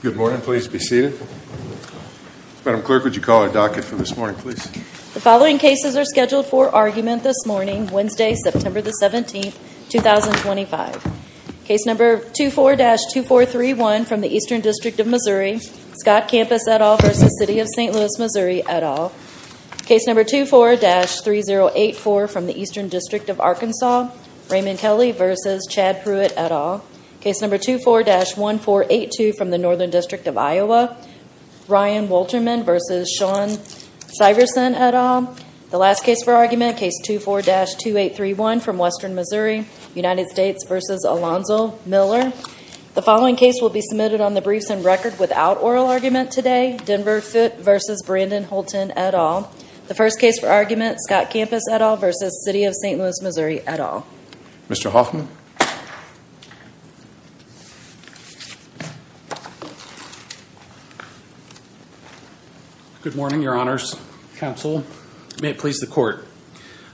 Good morning, please be seated. Madam Clerk, would you call our docket for this morning, please? The following cases are scheduled for argument this morning, Wednesday, September the 17th, 2025. Case number 24-2431 from the Eastern District of Missouri, Scott Kampas et al. v. City of St. Louis, Missouri et al. Case number 24-3084 from the Eastern District of Arkansas, Raymond Kelly v. Chad Pruitt et al. Case number 24-1482 from the Northern District of Iowa, Ryan Wolterman v. Sean Syverson et al. The last case for argument, case 24-2831 from Western Missouri, United States v. Alonzo Miller. The following case will be submitted on the briefs and record without oral argument today, Denver Foote v. Brandon Holton et al. The first case for argument, Scott Kampas et al. v. City of St. Louis, Missouri et al. Mr. Hoffman. Good morning, your honors. Counsel, may it please the court.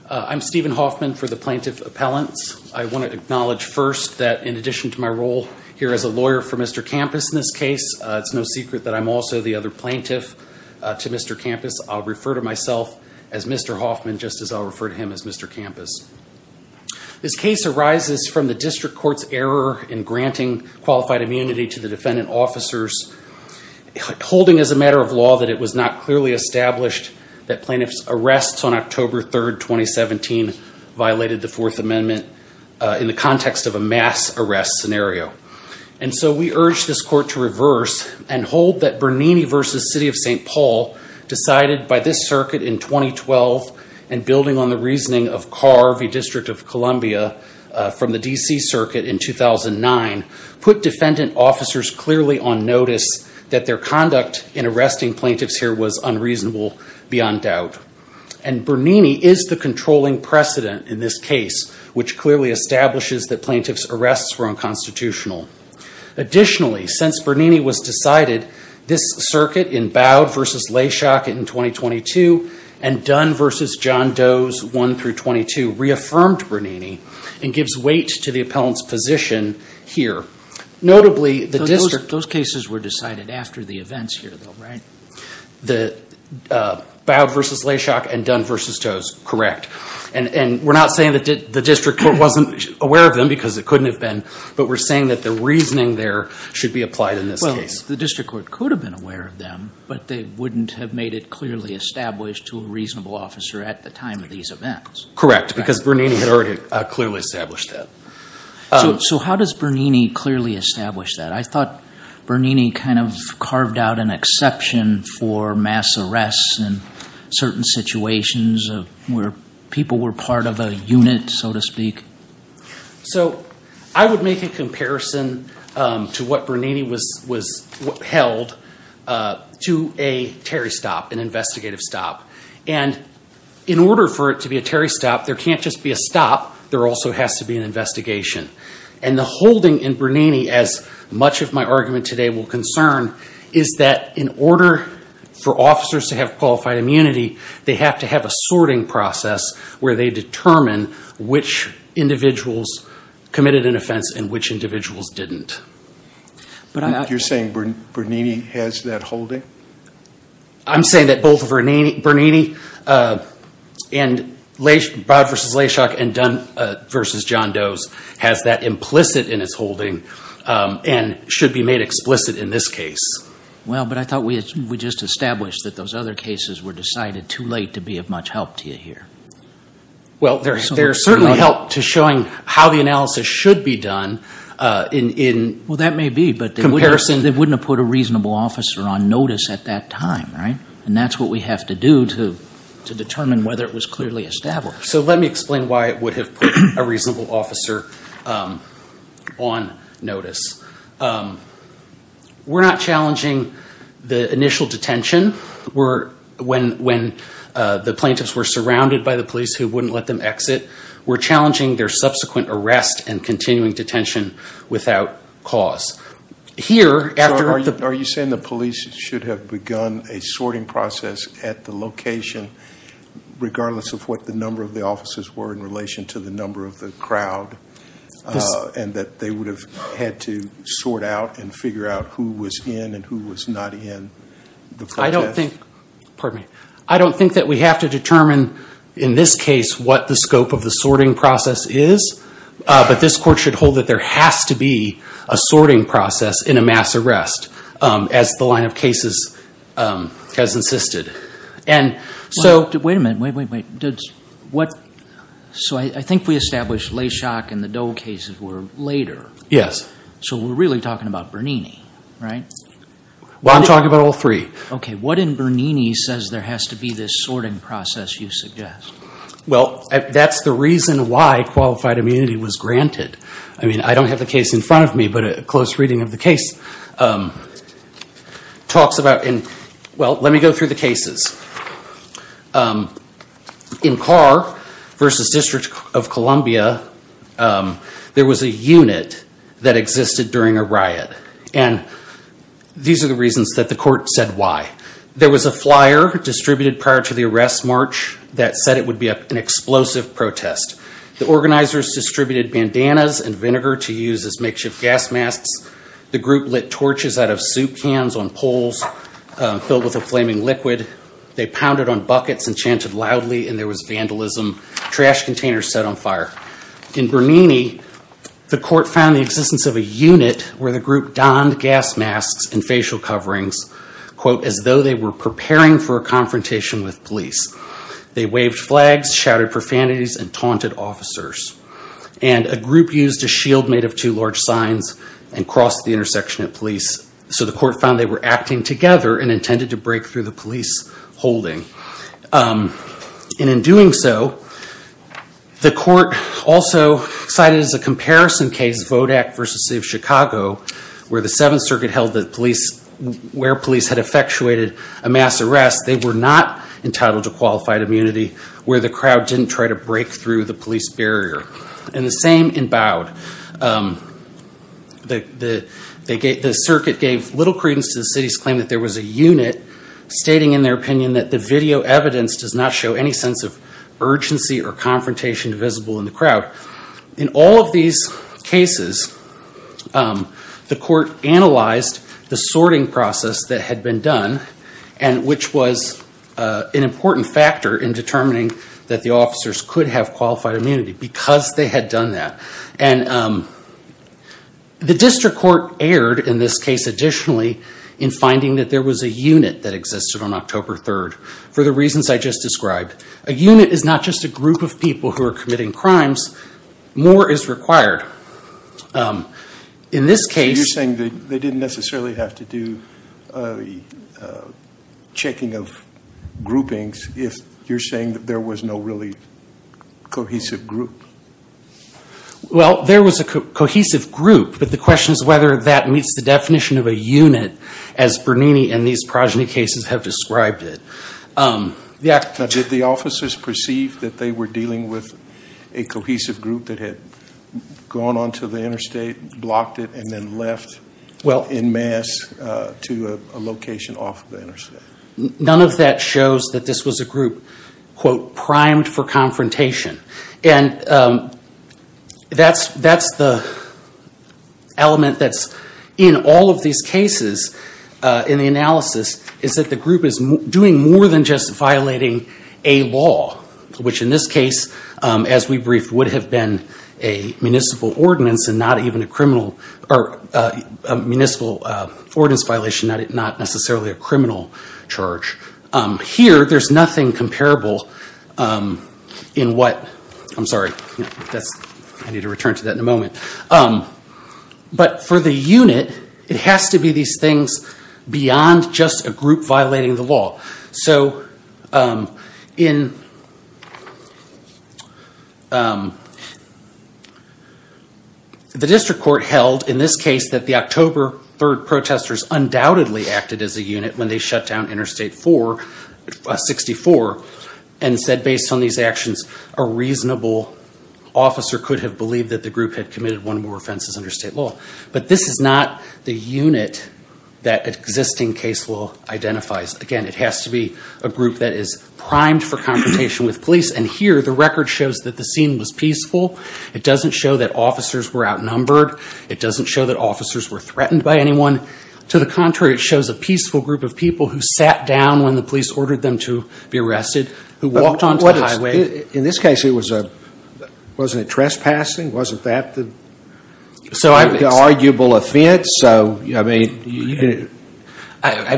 I'm Stephen Hoffman for the plaintiff appellants. I want to acknowledge first that in addition to my role here as a lawyer for Mr. Kampas in this case, it's no secret that I'm also the other plaintiff to Mr. Kampas. I'll refer to myself as Mr. Hoffman, just as I'll refer to him as Mr. Kampas. This case arises from the district court's error in granting qualified immunity to the defendant officers, holding as a matter of law that it was not clearly established that plaintiff's arrests on October 3, 2017 violated the Fourth Amendment in the context of a mass arrest scenario. And so we urge this court to reverse and hold that Bernini v. City of St. Paul, decided by this circuit in 2012 and building on the reasoning of Carr v. District of Columbia from the D.C. Circuit in 2009, put defendant officers clearly on notice that their conduct in arresting plaintiffs here was unreasonable beyond doubt. And Bernini is the controlling precedent in this case, which clearly establishes that plaintiff's Bernini was decided, this circuit in Bowd v. Leshock in 2022 and Dunn v. John Doe's 1-22 reaffirmed Bernini and gives weight to the appellant's position here. Notably, the district... Those cases were decided after the events here though, right? The Bowd v. Leshock and Dunn v. Doe's, correct. And we're not saying that the district court wasn't aware of them because it couldn't have been, but we're saying that the reasoning there should be applied in this case. Well, the district court could have been aware of them, but they wouldn't have made it clearly established to a reasonable officer at the time of these events. Correct, because Bernini had already clearly established that. So how does Bernini clearly establish that? I thought Bernini kind of carved out an exception for mass arrests and certain situations where people were part of a unit, so to speak. So I would make a comparison to what Bernini was held to a Terry stop, an investigative stop. And in order for it to be a Terry stop, there can't just be a stop, there also has to be an investigation. And the holding in Bernini, as much of my argument today will concern, is that in order for officers to have qualified immunity, they have to have a sorting process where they determine which individuals committed an offense and which individuals didn't. You're saying Bernini has that holding? I'm saying that both Bernini and Broad v. Lashok and Dunn v. John Doe has that implicit in its holding and should be made explicit in this case. Well, but I thought we just established that those other cases were decided too late to be of much help to you here. Well, they're certainly help to showing how the analysis should be done in comparison. Well, that may be, but they wouldn't have put a reasonable officer on notice at that time, right? And that's what we have to do to determine whether it was clearly established. So let me explain why it would have put a reasonable officer on notice. We're not challenging the initial detention when the plaintiffs were surrounded by the police who wouldn't let them exit. We're challenging their subsequent arrest and continuing detention without cause. Here, after- Are you saying the police should have begun a sorting process at the location regardless of what the number of the officers were in relation to the number of the crowd and that they would have had to sort out and figure out who was in and who was not in the protest? Pardon me. I don't think that we have to determine in this case what the scope of the sorting process is, but this court should hold that there has to be a sorting process in a mass arrest as the line of cases has insisted. And so- Wait a minute. Wait, wait, wait. So I think we established Leshock and the Dole cases were later. Yes. So we're really talking about Bernini, right? Well, I'm talking about all three. Okay. What in Bernini says there has to be this sorting process, you suggest? Well, that's the reason why qualified immunity was granted. I mean, I don't have the case in front of me, but a close reading of the case talks about- Well, let me go through the cases. In Carr versus District of Columbia, there was a unit that existed during a riot. And the reason is that the court said why. There was a flyer distributed prior to the arrest march that said it would be an explosive protest. The organizers distributed bandanas and vinegar to use as makeshift gas masks. The group lit torches out of soup cans on poles filled with a flaming liquid. They pounded on buckets and chanted loudly and there was vandalism. Trash containers set on fire. In Bernini, the court found the existence of a unit where the group donned gas masks and facial coverings, quote, as though they were preparing for a confrontation with police. They waved flags, shouted profanities, and taunted officers. And a group used a shield made of two large signs and crossed the intersection of police. So the court found they were acting together and intended to break through the police holding. And in doing so, the court also cited as a where police had effectuated a mass arrest, they were not entitled to qualified immunity where the crowd didn't try to break through the police barrier. And the same in Boud. The circuit gave little credence to the city's claim that there was a unit stating in their opinion that the video evidence does not show any sense of urgency or confrontation visible in the crowd. In all of these cases, the court analyzed the sorting process that had been done and which was an important factor in determining that the officers could have qualified immunity because they had done that. And the district court erred in this case additionally in finding that there was a unit that existed on October 3rd for the reasons I just described. A unit is not just a group of people who are committing crimes. More is required. In this case... You're saying they didn't necessarily have to do checking of groupings if you're saying that there was no really cohesive group? Well, there was a cohesive group, but the question is whether that meets the definition of a unit as Bernini and these progeny cases have described it. Now, did the officers perceive that they were dealing with a cohesive group that had gone on to the interstate, blocked it, and then left en masse to a location off the interstate? None of that shows that this was a group, quote, primed for confrontation. And that's the element that's in all of these cases in the analysis is that the group is doing more than just violating a law, which in this case, as we briefed, would have been a municipal ordinance and not even a criminal or a municipal ordinance violation, not necessarily a criminal charge. Here, there's nothing comparable in what... I'm sorry. I need to return to that in a moment. But for the unit, it has to be these things beyond just a group violating the law. The district court held in this case that the October 3rd protesters undoubtedly acted as a 64 and said, based on these actions, a reasonable officer could have believed that the group had committed one more offenses under state law. But this is not the unit that existing case law identifies. Again, it has to be a group that is primed for confrontation with police. And here, the record shows that the scene was peaceful. It doesn't show that officers were outnumbered. It doesn't show that officers were threatened by anyone. To the contrary, it shows a peaceful group of people who sat down when the police ordered them to be arrested, who walked onto the highway. In this case, wasn't it trespassing? Wasn't that the arguable offense? I've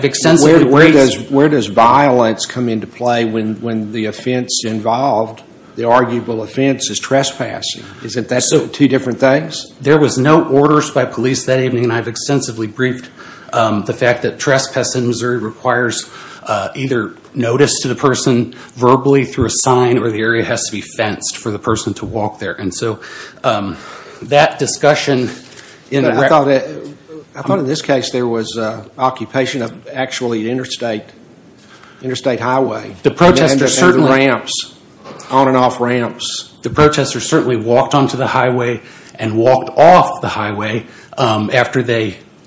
extensively briefed... Where does violence come into play when the offense involved, the arguable offense, is trespassing? Isn't that two different things? There was no orders by police that evening. I've extensively briefed the fact that trespassing in Missouri requires either notice to the person verbally through a sign or the area has to be fenced for the person to walk there. That discussion... I thought in this case there was an occupation of actually an interstate highway. On and off ramps. The protesters certainly walked onto the highway and walked off the highway.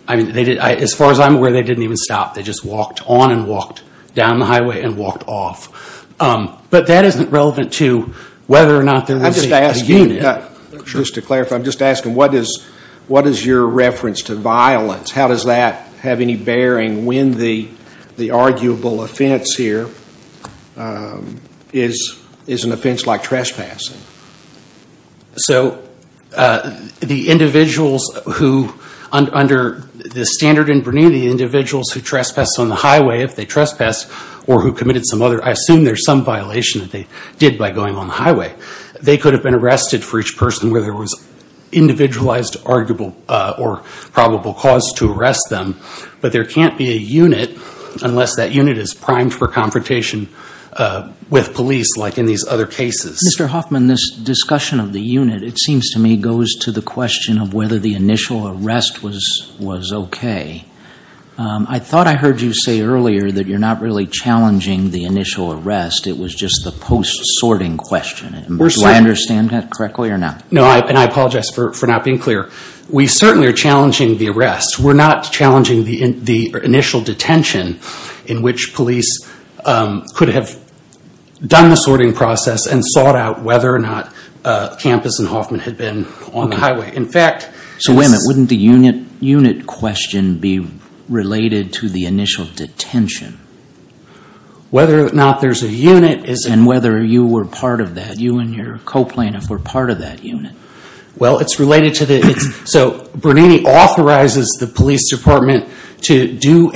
As far as I'm aware, they didn't even stop. They just walked on and walked down the highway and walked off. But that isn't relevant to whether or not there was a unit. Just to clarify, I'm just asking, what is your reference to violence? How does that have any bearing when the arguable offense here is an offense like trespassing? The individuals who, under the standard in Bernina, the individuals who trespass on the highway, if they trespass, or who committed some other... I assume there's some violation that they did by going on the highway. They could have been arrested for each person where there was individualized arguable or probable cause to arrest them. But there can't be a unit unless that unit is primed for confrontation with police like in these other cases. Mr. Hoffman, this discussion of the unit, it seems to me, goes to the question of whether the initial arrest was okay. I thought I heard you say earlier that you're not really challenging the initial arrest. It was just the post-sorting question. Do I understand that correctly or not? No, and I apologize for not being clear. We certainly are challenging the arrest. We're not challenging the initial detention in which police could have done the sorting process and sought out whether or not Kampus and Hoffman had been on the highway. In fact... So wait a minute. Wouldn't the unit question be related to the initial detention? Whether or not there's a unit is... And whether you were part of that, you and your co-plaintiff were part of that unit. Well, it's related to the... So Bernina authorizes the police department to do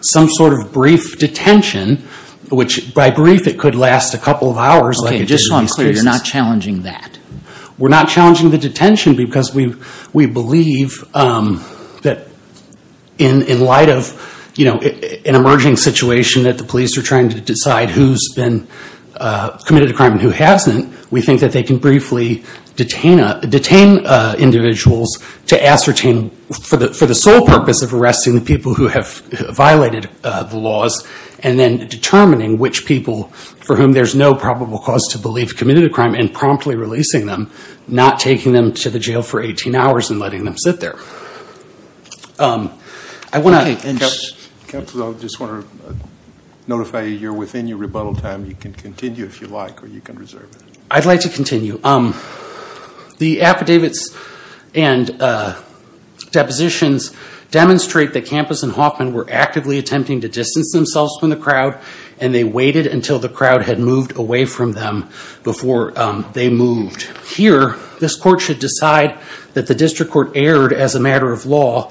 some sort of brief detention, which by brief it could last a couple of hours like it did in these cases. Okay, just so I'm clear, you're not challenging that? We're not challenging the detention because we believe that in light of an emerging situation that the police are trying to decide who's been committed a crime and who hasn't, we think that they can briefly detain individuals to ascertain for the sole purpose of arresting the people who violated the laws and then determining which people for whom there's no probable cause to believe committed a crime and promptly releasing them, not taking them to the jail for 18 hours and letting them sit there. I want to... Counselor, I just want to notify you, you're within your rebuttal time. You can continue if you like or you can reserve it. I'd like to continue. The affidavits and depositions demonstrate that Kampus and Hoffman were actively attempting to distance themselves from the crowd and they waited until the crowd had moved away from them before they moved. Here, this court should decide that the district court erred as a matter of law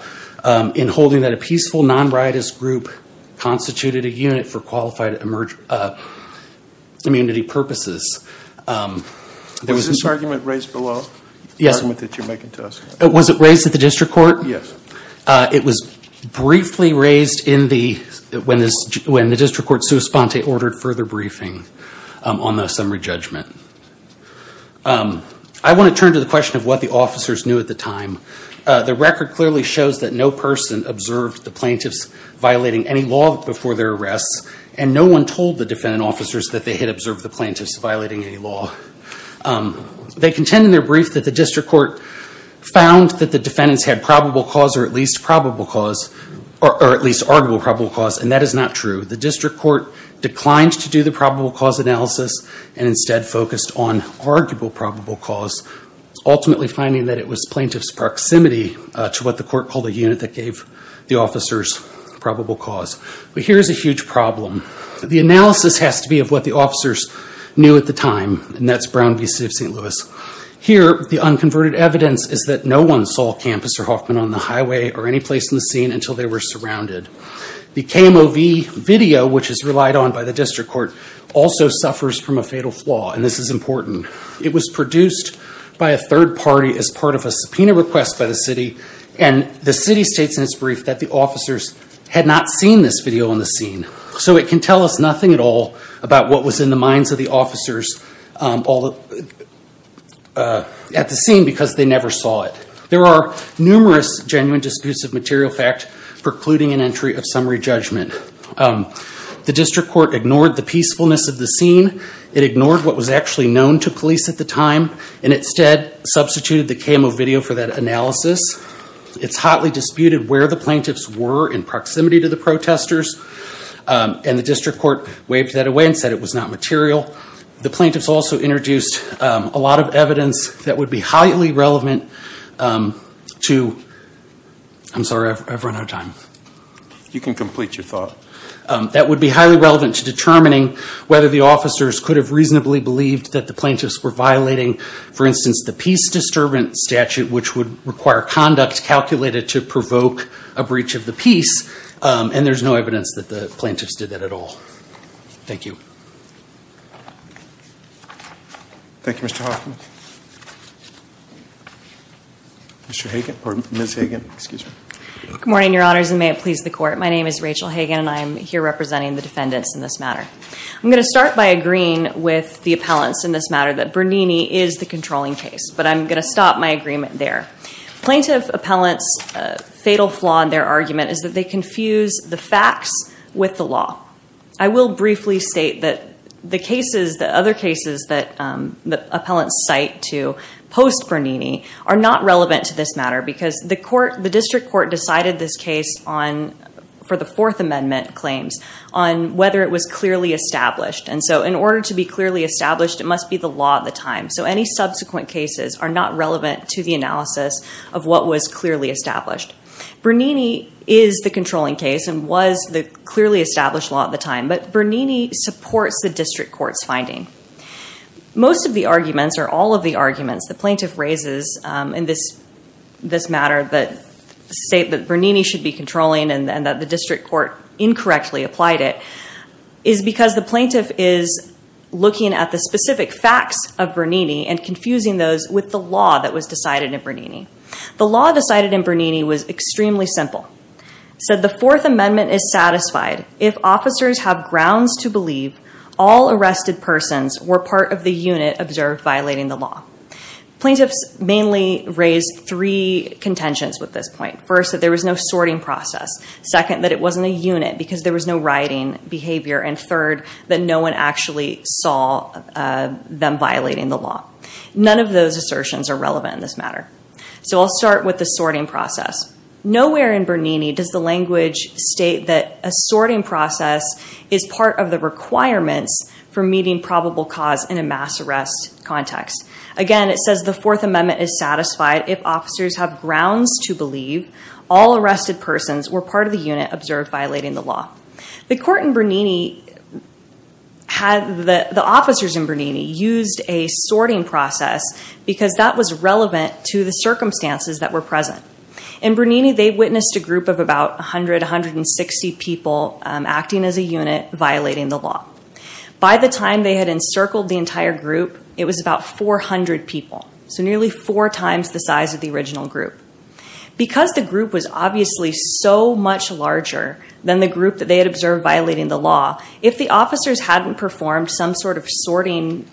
in holding that a peaceful non-riotous group constituted a unit for qualified immunity purposes. There was this argument raised below, the argument that you're making to us. Was it raised at the district court? Yes. It was briefly raised when the district court sua sponte ordered further briefing on the summary judgment. I want to turn to the question of what the officers knew at the time. The record clearly shows that no person observed the plaintiffs violating any law before their arrests and no one told the defendant officers that they had observed the plaintiffs violating any law. They contend in their brief that the district court found that the defendants had probable cause or at least probable cause or at least arguable probable cause and that is not true. The district court declined to do the probable cause analysis and instead focused on arguable probable cause, ultimately finding that it was plaintiff's proximity to what the court called a unit that gave the officers probable cause. But here's a huge problem. The analysis has to be of what the officers knew at the time and that's Brown v. City of St. Louis. Here, the unconverted evidence is that no one saw Campus or Hoffman on the highway or any place in the scene until they were surrounded. The KMOV video, which is relied on by the district court, also suffers from a fatal flaw and this is important. It was produced by a third party as part of a subpoena request by the city and the city states in its brief that the officers had not seen this video on the scene. So it can tell us nothing at all about what was in the minds of the officers at the scene because they never saw it. There are numerous genuine disputes of material fact precluding an entry of summary judgment. The district court ignored the peacefulness of the scene. It ignored what was actually known to police at the time and instead substituted the KMOV video for that analysis. It's hotly disputed where the plaintiffs were in proximity to the protesters and the district court waved that away and said it was not material. The plaintiffs also introduced a lot of evidence that would be highly relevant to determining whether the officers could have reasonably believed that the plaintiffs were violating, for instance, the peace disturbance statute, which would require conduct calculated to provoke a breach of the peace. And there's no evidence that the plaintiffs did that at all. Thank you. Thank you, Mr. Hoffman. Mr. Hagan, or Ms. Hagan, excuse me. Good morning, your honors, and may it please the court. My name is Rachel Hagan and I am here representing the defendants in this matter. I'm going to start by agreeing with the appellants in this matter that Bernini is the controlling case, but I'm going to stop my agreement there. Plaintiff appellants' fatal flaw in their argument is that they confuse the facts with the law. I will briefly state that the other cases that the appellants cite to post-Bernini are not relevant to this matter because the district court decided this case for the Fourth Amendment claims on whether it was clearly established. And so in order to be clearly established, it must be the law of the time. So any subsequent cases are not relevant to the analysis of what was clearly established. Bernini is the controlling case and was the clearly established law at the time, but Bernini supports the district court's finding. Most of the arguments or all of the arguments the plaintiff raises in this matter that state Bernini should be controlling and that the district court incorrectly applied it is because the plaintiff is looking at the specific facts of Bernini and confusing those with the law that was decided in Bernini. The law decided in Bernini was extremely simple. Said the Fourth Amendment is satisfied if officers have grounds to believe all arrested persons were part of the unit observed violating the law. Plaintiffs mainly raised three contentions with this point. First, that there was no sorting process. Second, that it wasn't a unit because there was no writing behavior. And third, that no one actually saw them violating the law. None of those assertions are relevant in this matter. So I'll start with the sorting process. Nowhere in Bernini does the language state that a sorting process is part of the requirements for meeting probable cause in a mass arrest context. Again, it says the Fourth Amendment is satisfied if officers have grounds to believe all arrested persons were part of the unit observed violating the law. The court in Bernini had the officers in Bernini used a sorting process because that was relevant to the circumstances that were present. In Bernini, they witnessed a group of about 100, 160 people acting as a unit violating the law. By the time they had encircled the entire group, it was about 400 people. So nearly four times the size of the original group. Because the group was obviously so much larger than the group that they had observed violating the law, if the officers hadn't performed some sort of sorting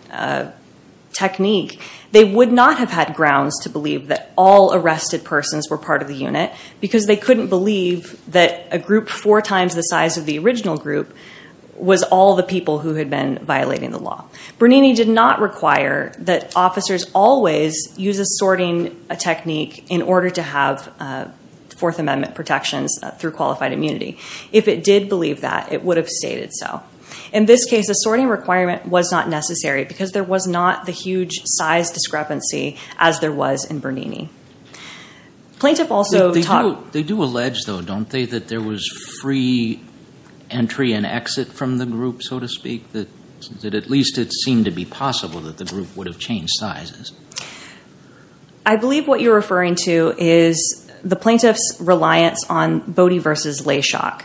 technique, they would not have had grounds to believe that all arrested persons were part of the unit because they couldn't believe that a group four times the size of the original group was all the people who had been violating the law. Bernini did not require that officers always use a sorting technique in order to have Fourth Amendment protections through qualified immunity. If it did believe that, it would have stated so. In this case, a sorting requirement was not necessary because there was not the huge size discrepancy as there was in Bernini. Plaintiff also talked... They do allege though, don't they, that there was free entry and exit from the group, so to speak? That at least it seemed to be possible that the group would have changed sizes. I believe what you're referring to is the plaintiff's reliance on Bodie versus Lashok,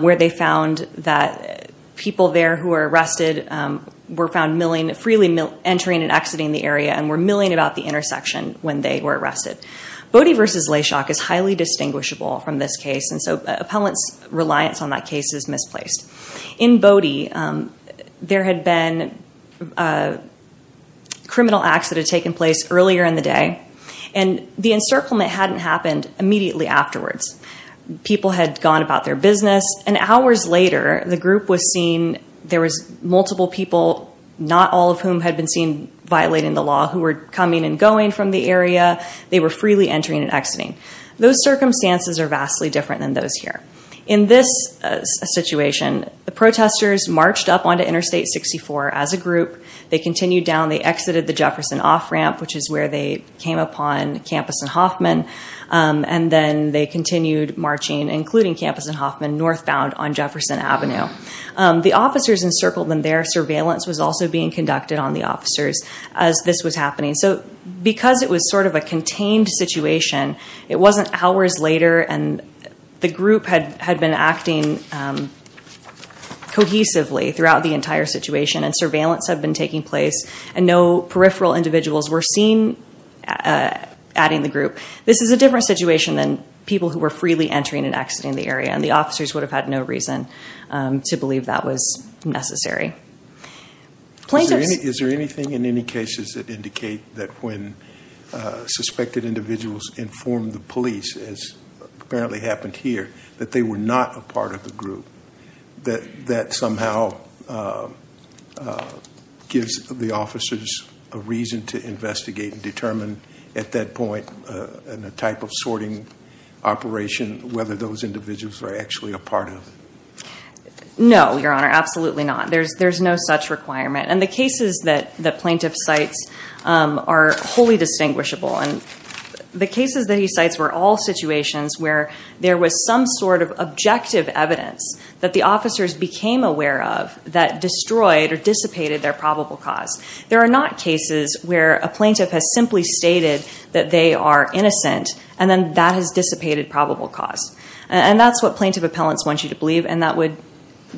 where they found that people there who were arrested were found milling, freely entering and exiting the area and were milling about the intersection when they were arrested. Bodie versus Lashok is highly distinguishable from this case, and so appellant's reliance on that case is misplaced. In Bodie, there had been criminal acts that had taken place earlier in the day, and the encirclement hadn't happened immediately afterwards. People had gone about their business, and hours later, the group was seen... There was multiple people, not all of whom had been seen violating the law, who were coming and going from the area. They were freely entering and exiting. Those circumstances are vastly different than those here. In this situation, the protesters marched up onto Interstate 64 as a group. They continued down. They exited the Jefferson off-ramp, which is where they came upon Campus and Hoffman, and then they continued marching, including Campus and Hoffman, northbound on Jefferson Avenue. The officers encircled, and their surveillance was also being conducted on the officers as this was happening. Because it was sort of a contained situation, it wasn't hours later, and the group had been acting cohesively throughout the entire situation, and surveillance had been taking place, and no peripheral individuals were seen adding the group. This is a different situation than people who were freely entering and exiting the area, and the officers would have had no reason to believe that was necessary. Is there anything in any cases that indicate that when suspected individuals inform the police, as apparently happened here, that they were not a part of the group? That somehow gives the officers a reason to investigate and determine, at that point, in a type of sorting operation, whether those individuals were actually a part of it? No, Your Honor. Absolutely not. There's no such requirement. And the cases that the plaintiff cites are wholly distinguishable. And the cases that he cites were all situations where there was some sort of objective evidence that the officers became aware of that destroyed or dissipated their probable cause. There are not cases where a plaintiff has simply stated that they are innocent, and then that has dissipated probable cause. And that's what plaintiff appellants want you to believe, and that would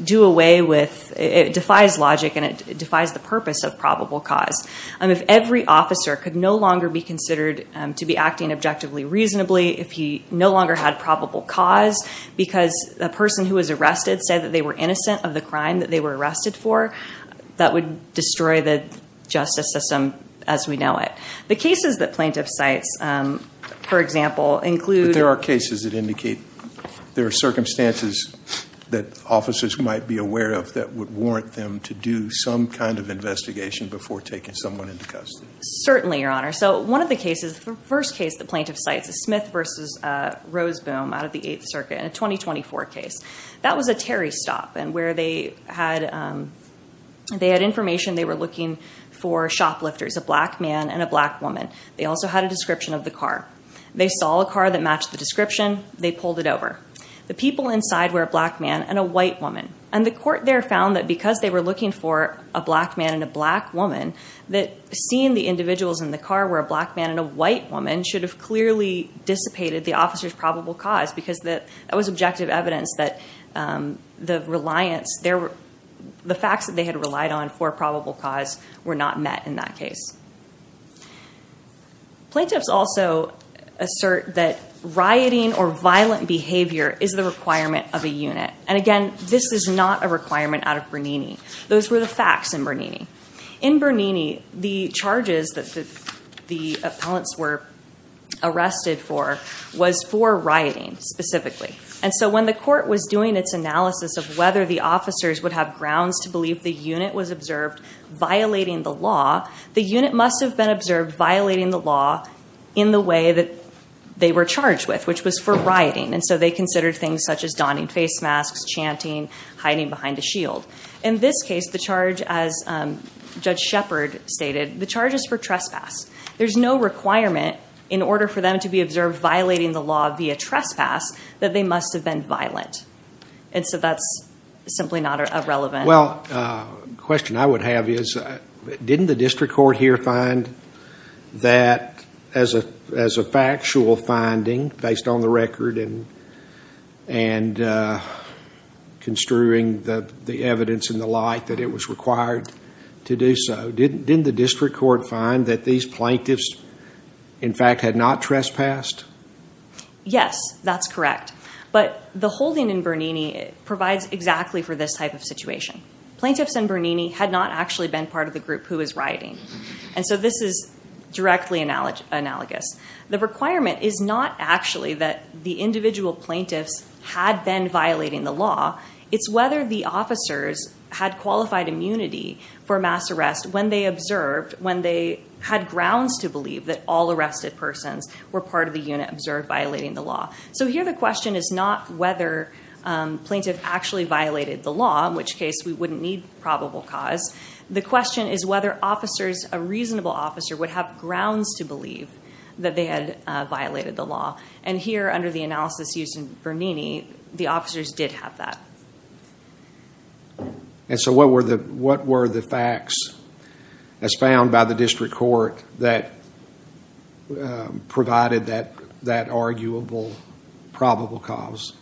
do away with, it defies logic, and it defies the purpose of probable cause. If every officer could no longer be considered to be acting objectively reasonably, if he no longer had probable cause, because a person who was arrested said that they were innocent of the crime that they were arrested for, that would destroy the justice system as we know it. The cases that plaintiff cites, for example, include... There are cases that indicate there are circumstances that officers might be aware of that would warrant them to do some kind of investigation before taking someone into custody. Certainly, Your Honor. So one of the cases, the first case the plaintiff cites is Smith versus Roseboom out of the Eighth Circuit in a 2024 case. That was a Terry stop, and where they had information they were looking for shoplifters, a black man and a black woman. They also had a description of the car. They saw a car that matched the description. They pulled it over. The people inside were a black man and a white woman, and the court there found that because they were looking for a black man and a black woman, that seeing the individuals in the car were a black man and a white woman should have clearly dissipated the officer's probable cause, because that was objective evidence that the reliance, the facts that they had relied on for probable cause were not met in that case. Plaintiffs also assert that rioting or violent behavior is the requirement of a unit. And again, this is not a requirement out of Bernini. Those were the facts in Bernini. In Bernini, the charges that the appellants were arrested for was for rioting specifically. And so when the court was doing its analysis of whether the officers would have grounds to believe the unit was observed violating the law, the unit must have been observed violating the law in the way that they were charged with, which was for rioting. And so they considered things such as donning face masks, chanting, hiding behind a shield. In this case, the charge, as Judge Shepard stated, the charge is for trespass. There's no requirement in order for them to be observed violating the law via trespass that they must have been violent. And so that's simply not relevant. Well, a question I would have is didn't the district court here find that as a factual finding based on the record and construing the evidence and the like that it was required to do so, didn't the district court find that these plaintiffs in fact had not trespassed? Yes, that's correct. But the holding in Bernini provides exactly for this type of situation. Plaintiffs in Bernini had not actually been part of the group who was rioting. And so this is directly analogous. The requirement is not actually that the individual plaintiffs had been violating the law. It's whether the officers had qualified immunity for mass arrest when they observed, when they had grounds to believe that all arrested persons were part of the unit observed violating the law. So here the question is not whether plaintiff actually violated the law, in which case we wouldn't need probable cause. The question is whether officers, a reasonable officer, would have grounds to believe that they had violated the law. And here under the analysis used in Bernini, the officers did have that. And so what were the facts as found by the district court that provided that arguable probable cause?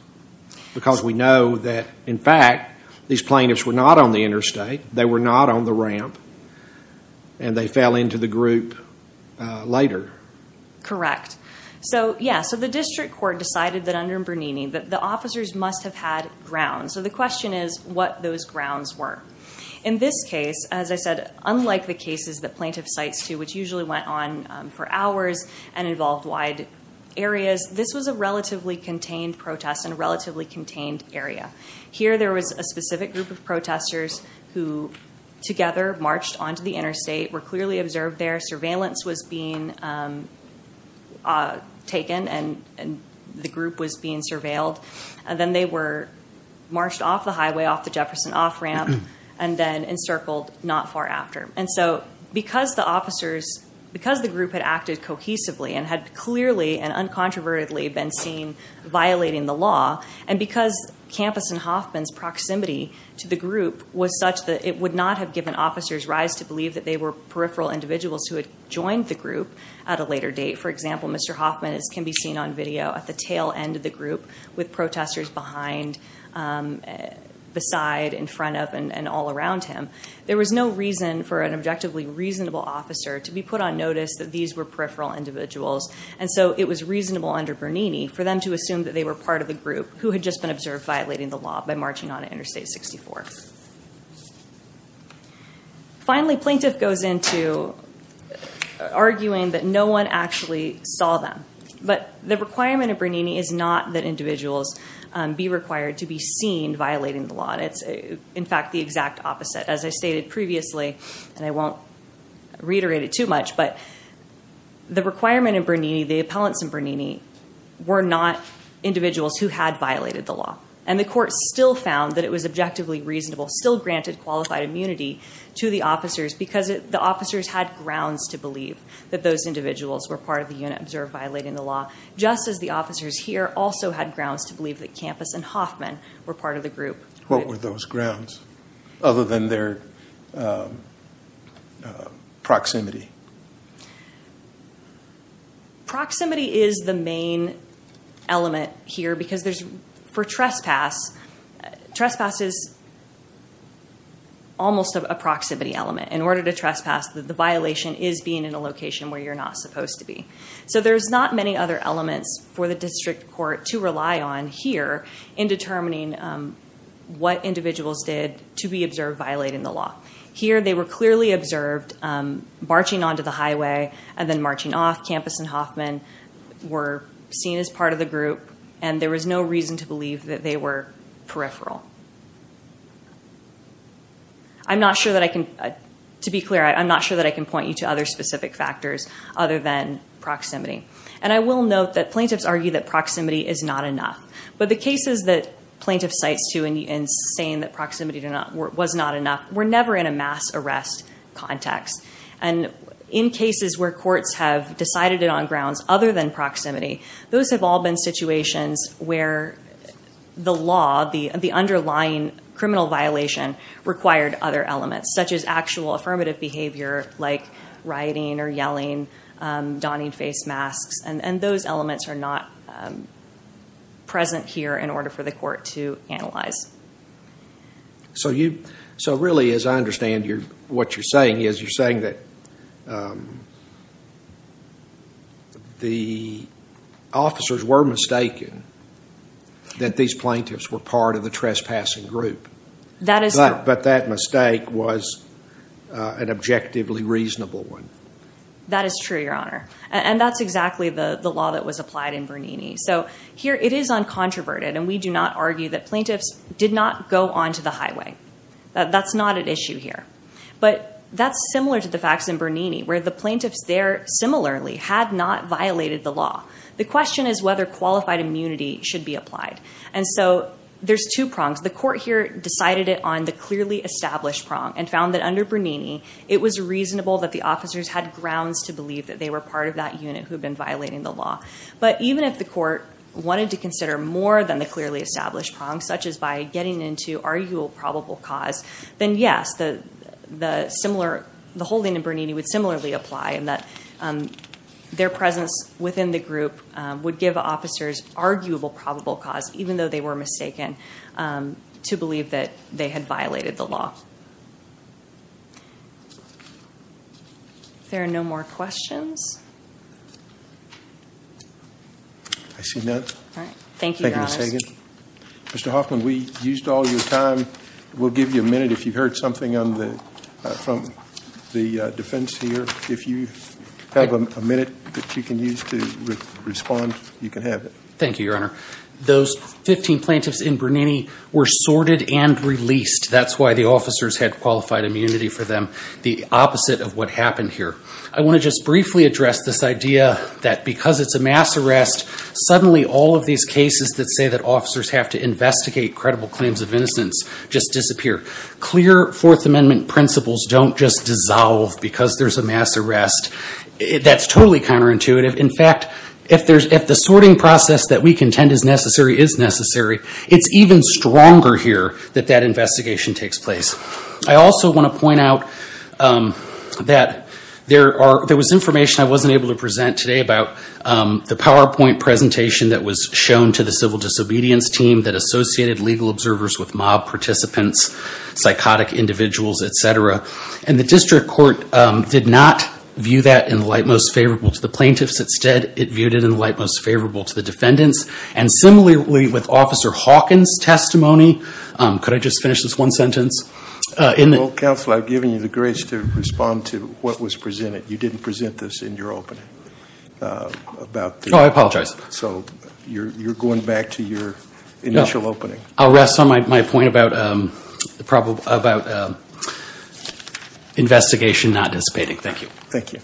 Because we know that in fact these plaintiffs were not on the interstate, they were not on the ramp, and they fell into the group later. So yeah, so the district court decided that under Bernini that the officers must have had grounds. So the question is what those grounds were. In this case, as I said, unlike the cases that plaintiff cites too, which usually went on for hours and involved wide areas, this was a relatively contained protest in a relatively contained area. Here there was a specific group of protesters who together marched onto the interstate, were clearly observed there. Surveillance was being taken, and the group was being surveilled. And then they were marched off the highway, off the Jefferson off-ramp, and then encircled not far after. And so because the group had acted cohesively and had clearly and uncontrovertedly been seen violating the law, and because Kampus and Hoffman's proximity to the group was such that it would not have given officers rise to believe that they were peripheral individuals who had joined the group at a later date. For example, Mr. Hoffman can be seen on video at the tail end of the group with protesters behind, beside, in front of, and all around him. There was no reason for an objectively reasonable officer to be put on notice that these were peripheral individuals. And so it was reasonable under Bernini for them to assume that they were part of the group who had just been observed violating the law by marching on Interstate 64. Finally, plaintiff goes into arguing that no one actually saw them. But the requirement of Bernini is not that individuals be required to be seen violating the law. In fact, the exact opposite. As I stated previously, and I won't reiterate it too much, but the requirement in Bernini, the appellants in Bernini, were not individuals who had violated the law. And the court still found that it was objectively reasonable, still granted qualified immunity to the officers because the officers had grounds to believe that those individuals were part of the unit observed violating the law, just as the officers here also had grounds to believe that Kampus and Hoffman were part of the group. What were those grounds other than their proximity? Proximity is the main element here because for trespass, trespass is almost a proximity element. In order to trespass, the violation is being in a location where you're not supposed to be. So there's not many other elements for the district court to rely on here in determining what individuals did to be observed violating the law. Here they were clearly observed marching onto the highway and then marching off. Kampus and Hoffman were seen as part of the group and there was no reason to believe that they were peripheral. I'm not sure that I can, to be clear, I'm not sure that I can point you to other specific factors other than proximity. And I will note that plaintiffs argue that proximity is not enough. But the cases that plaintiff cites too in saying that proximity was not enough were never in a mass arrest context. And in cases where courts have decided it on grounds other than proximity, those have all been situations where the law, the underlying criminal violation required other elements such as actual affirmative behavior like writing or yelling, donning face masks, and those aren't present here in order for the court to analyze. So you, so really as I understand what you're saying is you're saying that the officers were mistaken that these plaintiffs were part of the trespassing group. That is not. But that mistake was an objectively reasonable one. That is true, your honor. And that's exactly the law that was applied in Bernini. So here it is uncontroverted. And we do not argue that plaintiffs did not go onto the highway. That's not an issue here. But that's similar to the facts in Bernini where the plaintiffs there similarly had not violated the law. The question is whether qualified immunity should be applied. And so there's two prongs. The court here decided it on the clearly established prong and found that under Bernini it was reasonable that the officers had grounds to believe that they were part of that unit who had been violating the law. But even if the court wanted to consider more than the clearly established prong, such as by getting into arguable probable cause, then yes, the similar, the holding in Bernini would similarly apply in that their presence within the group would give officers arguable probable cause even though they were mistaken to believe that they had violated the law. If there are no more questions. I see none. All right. Thank you. Mr. Hoffman, we used all your time. We'll give you a minute if you've heard something from the defense here. If you have a minute that you can use to respond, you can have it. Thank you, Your Honor. Those 15 plaintiffs in Bernini were sorted and released. That's why the officers had qualified immunity for them. The opposite of what happened here. I want to just briefly address this idea that because it's a mass arrest, suddenly all of these cases that say that officers have to investigate credible claims of innocence just disappear. Clear Fourth Amendment principles don't just dissolve because there's a mass arrest. That's totally counterintuitive. In fact, if the sorting process that we contend is necessary is necessary, it's even stronger here that that investigation takes place. I also want to point out that there was information I wasn't able to present today about the PowerPoint presentation that was shown to the civil disobedience team that associated legal observers with mob participants, psychotic individuals, etc. And the district court did not view that in the light most favorable to the plaintiffs. Instead, it viewed it in the light most favorable to the defendants. And similarly, with Officer Hawkins' testimony, could I just finish this one sentence? Well, counsel, I've given you the grace to respond to what was presented. You didn't present this in your opening. Oh, I apologize. So you're going back to your initial opening. I'll rest on my point about investigation not dissipating. Thank you. Thank you.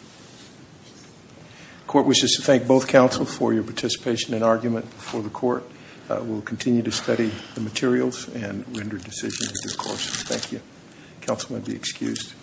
The court wishes to thank both counsel for your participation and argument before the court. We'll continue to study the materials and render decisions as they're close. Thank you. Counsel may be excused.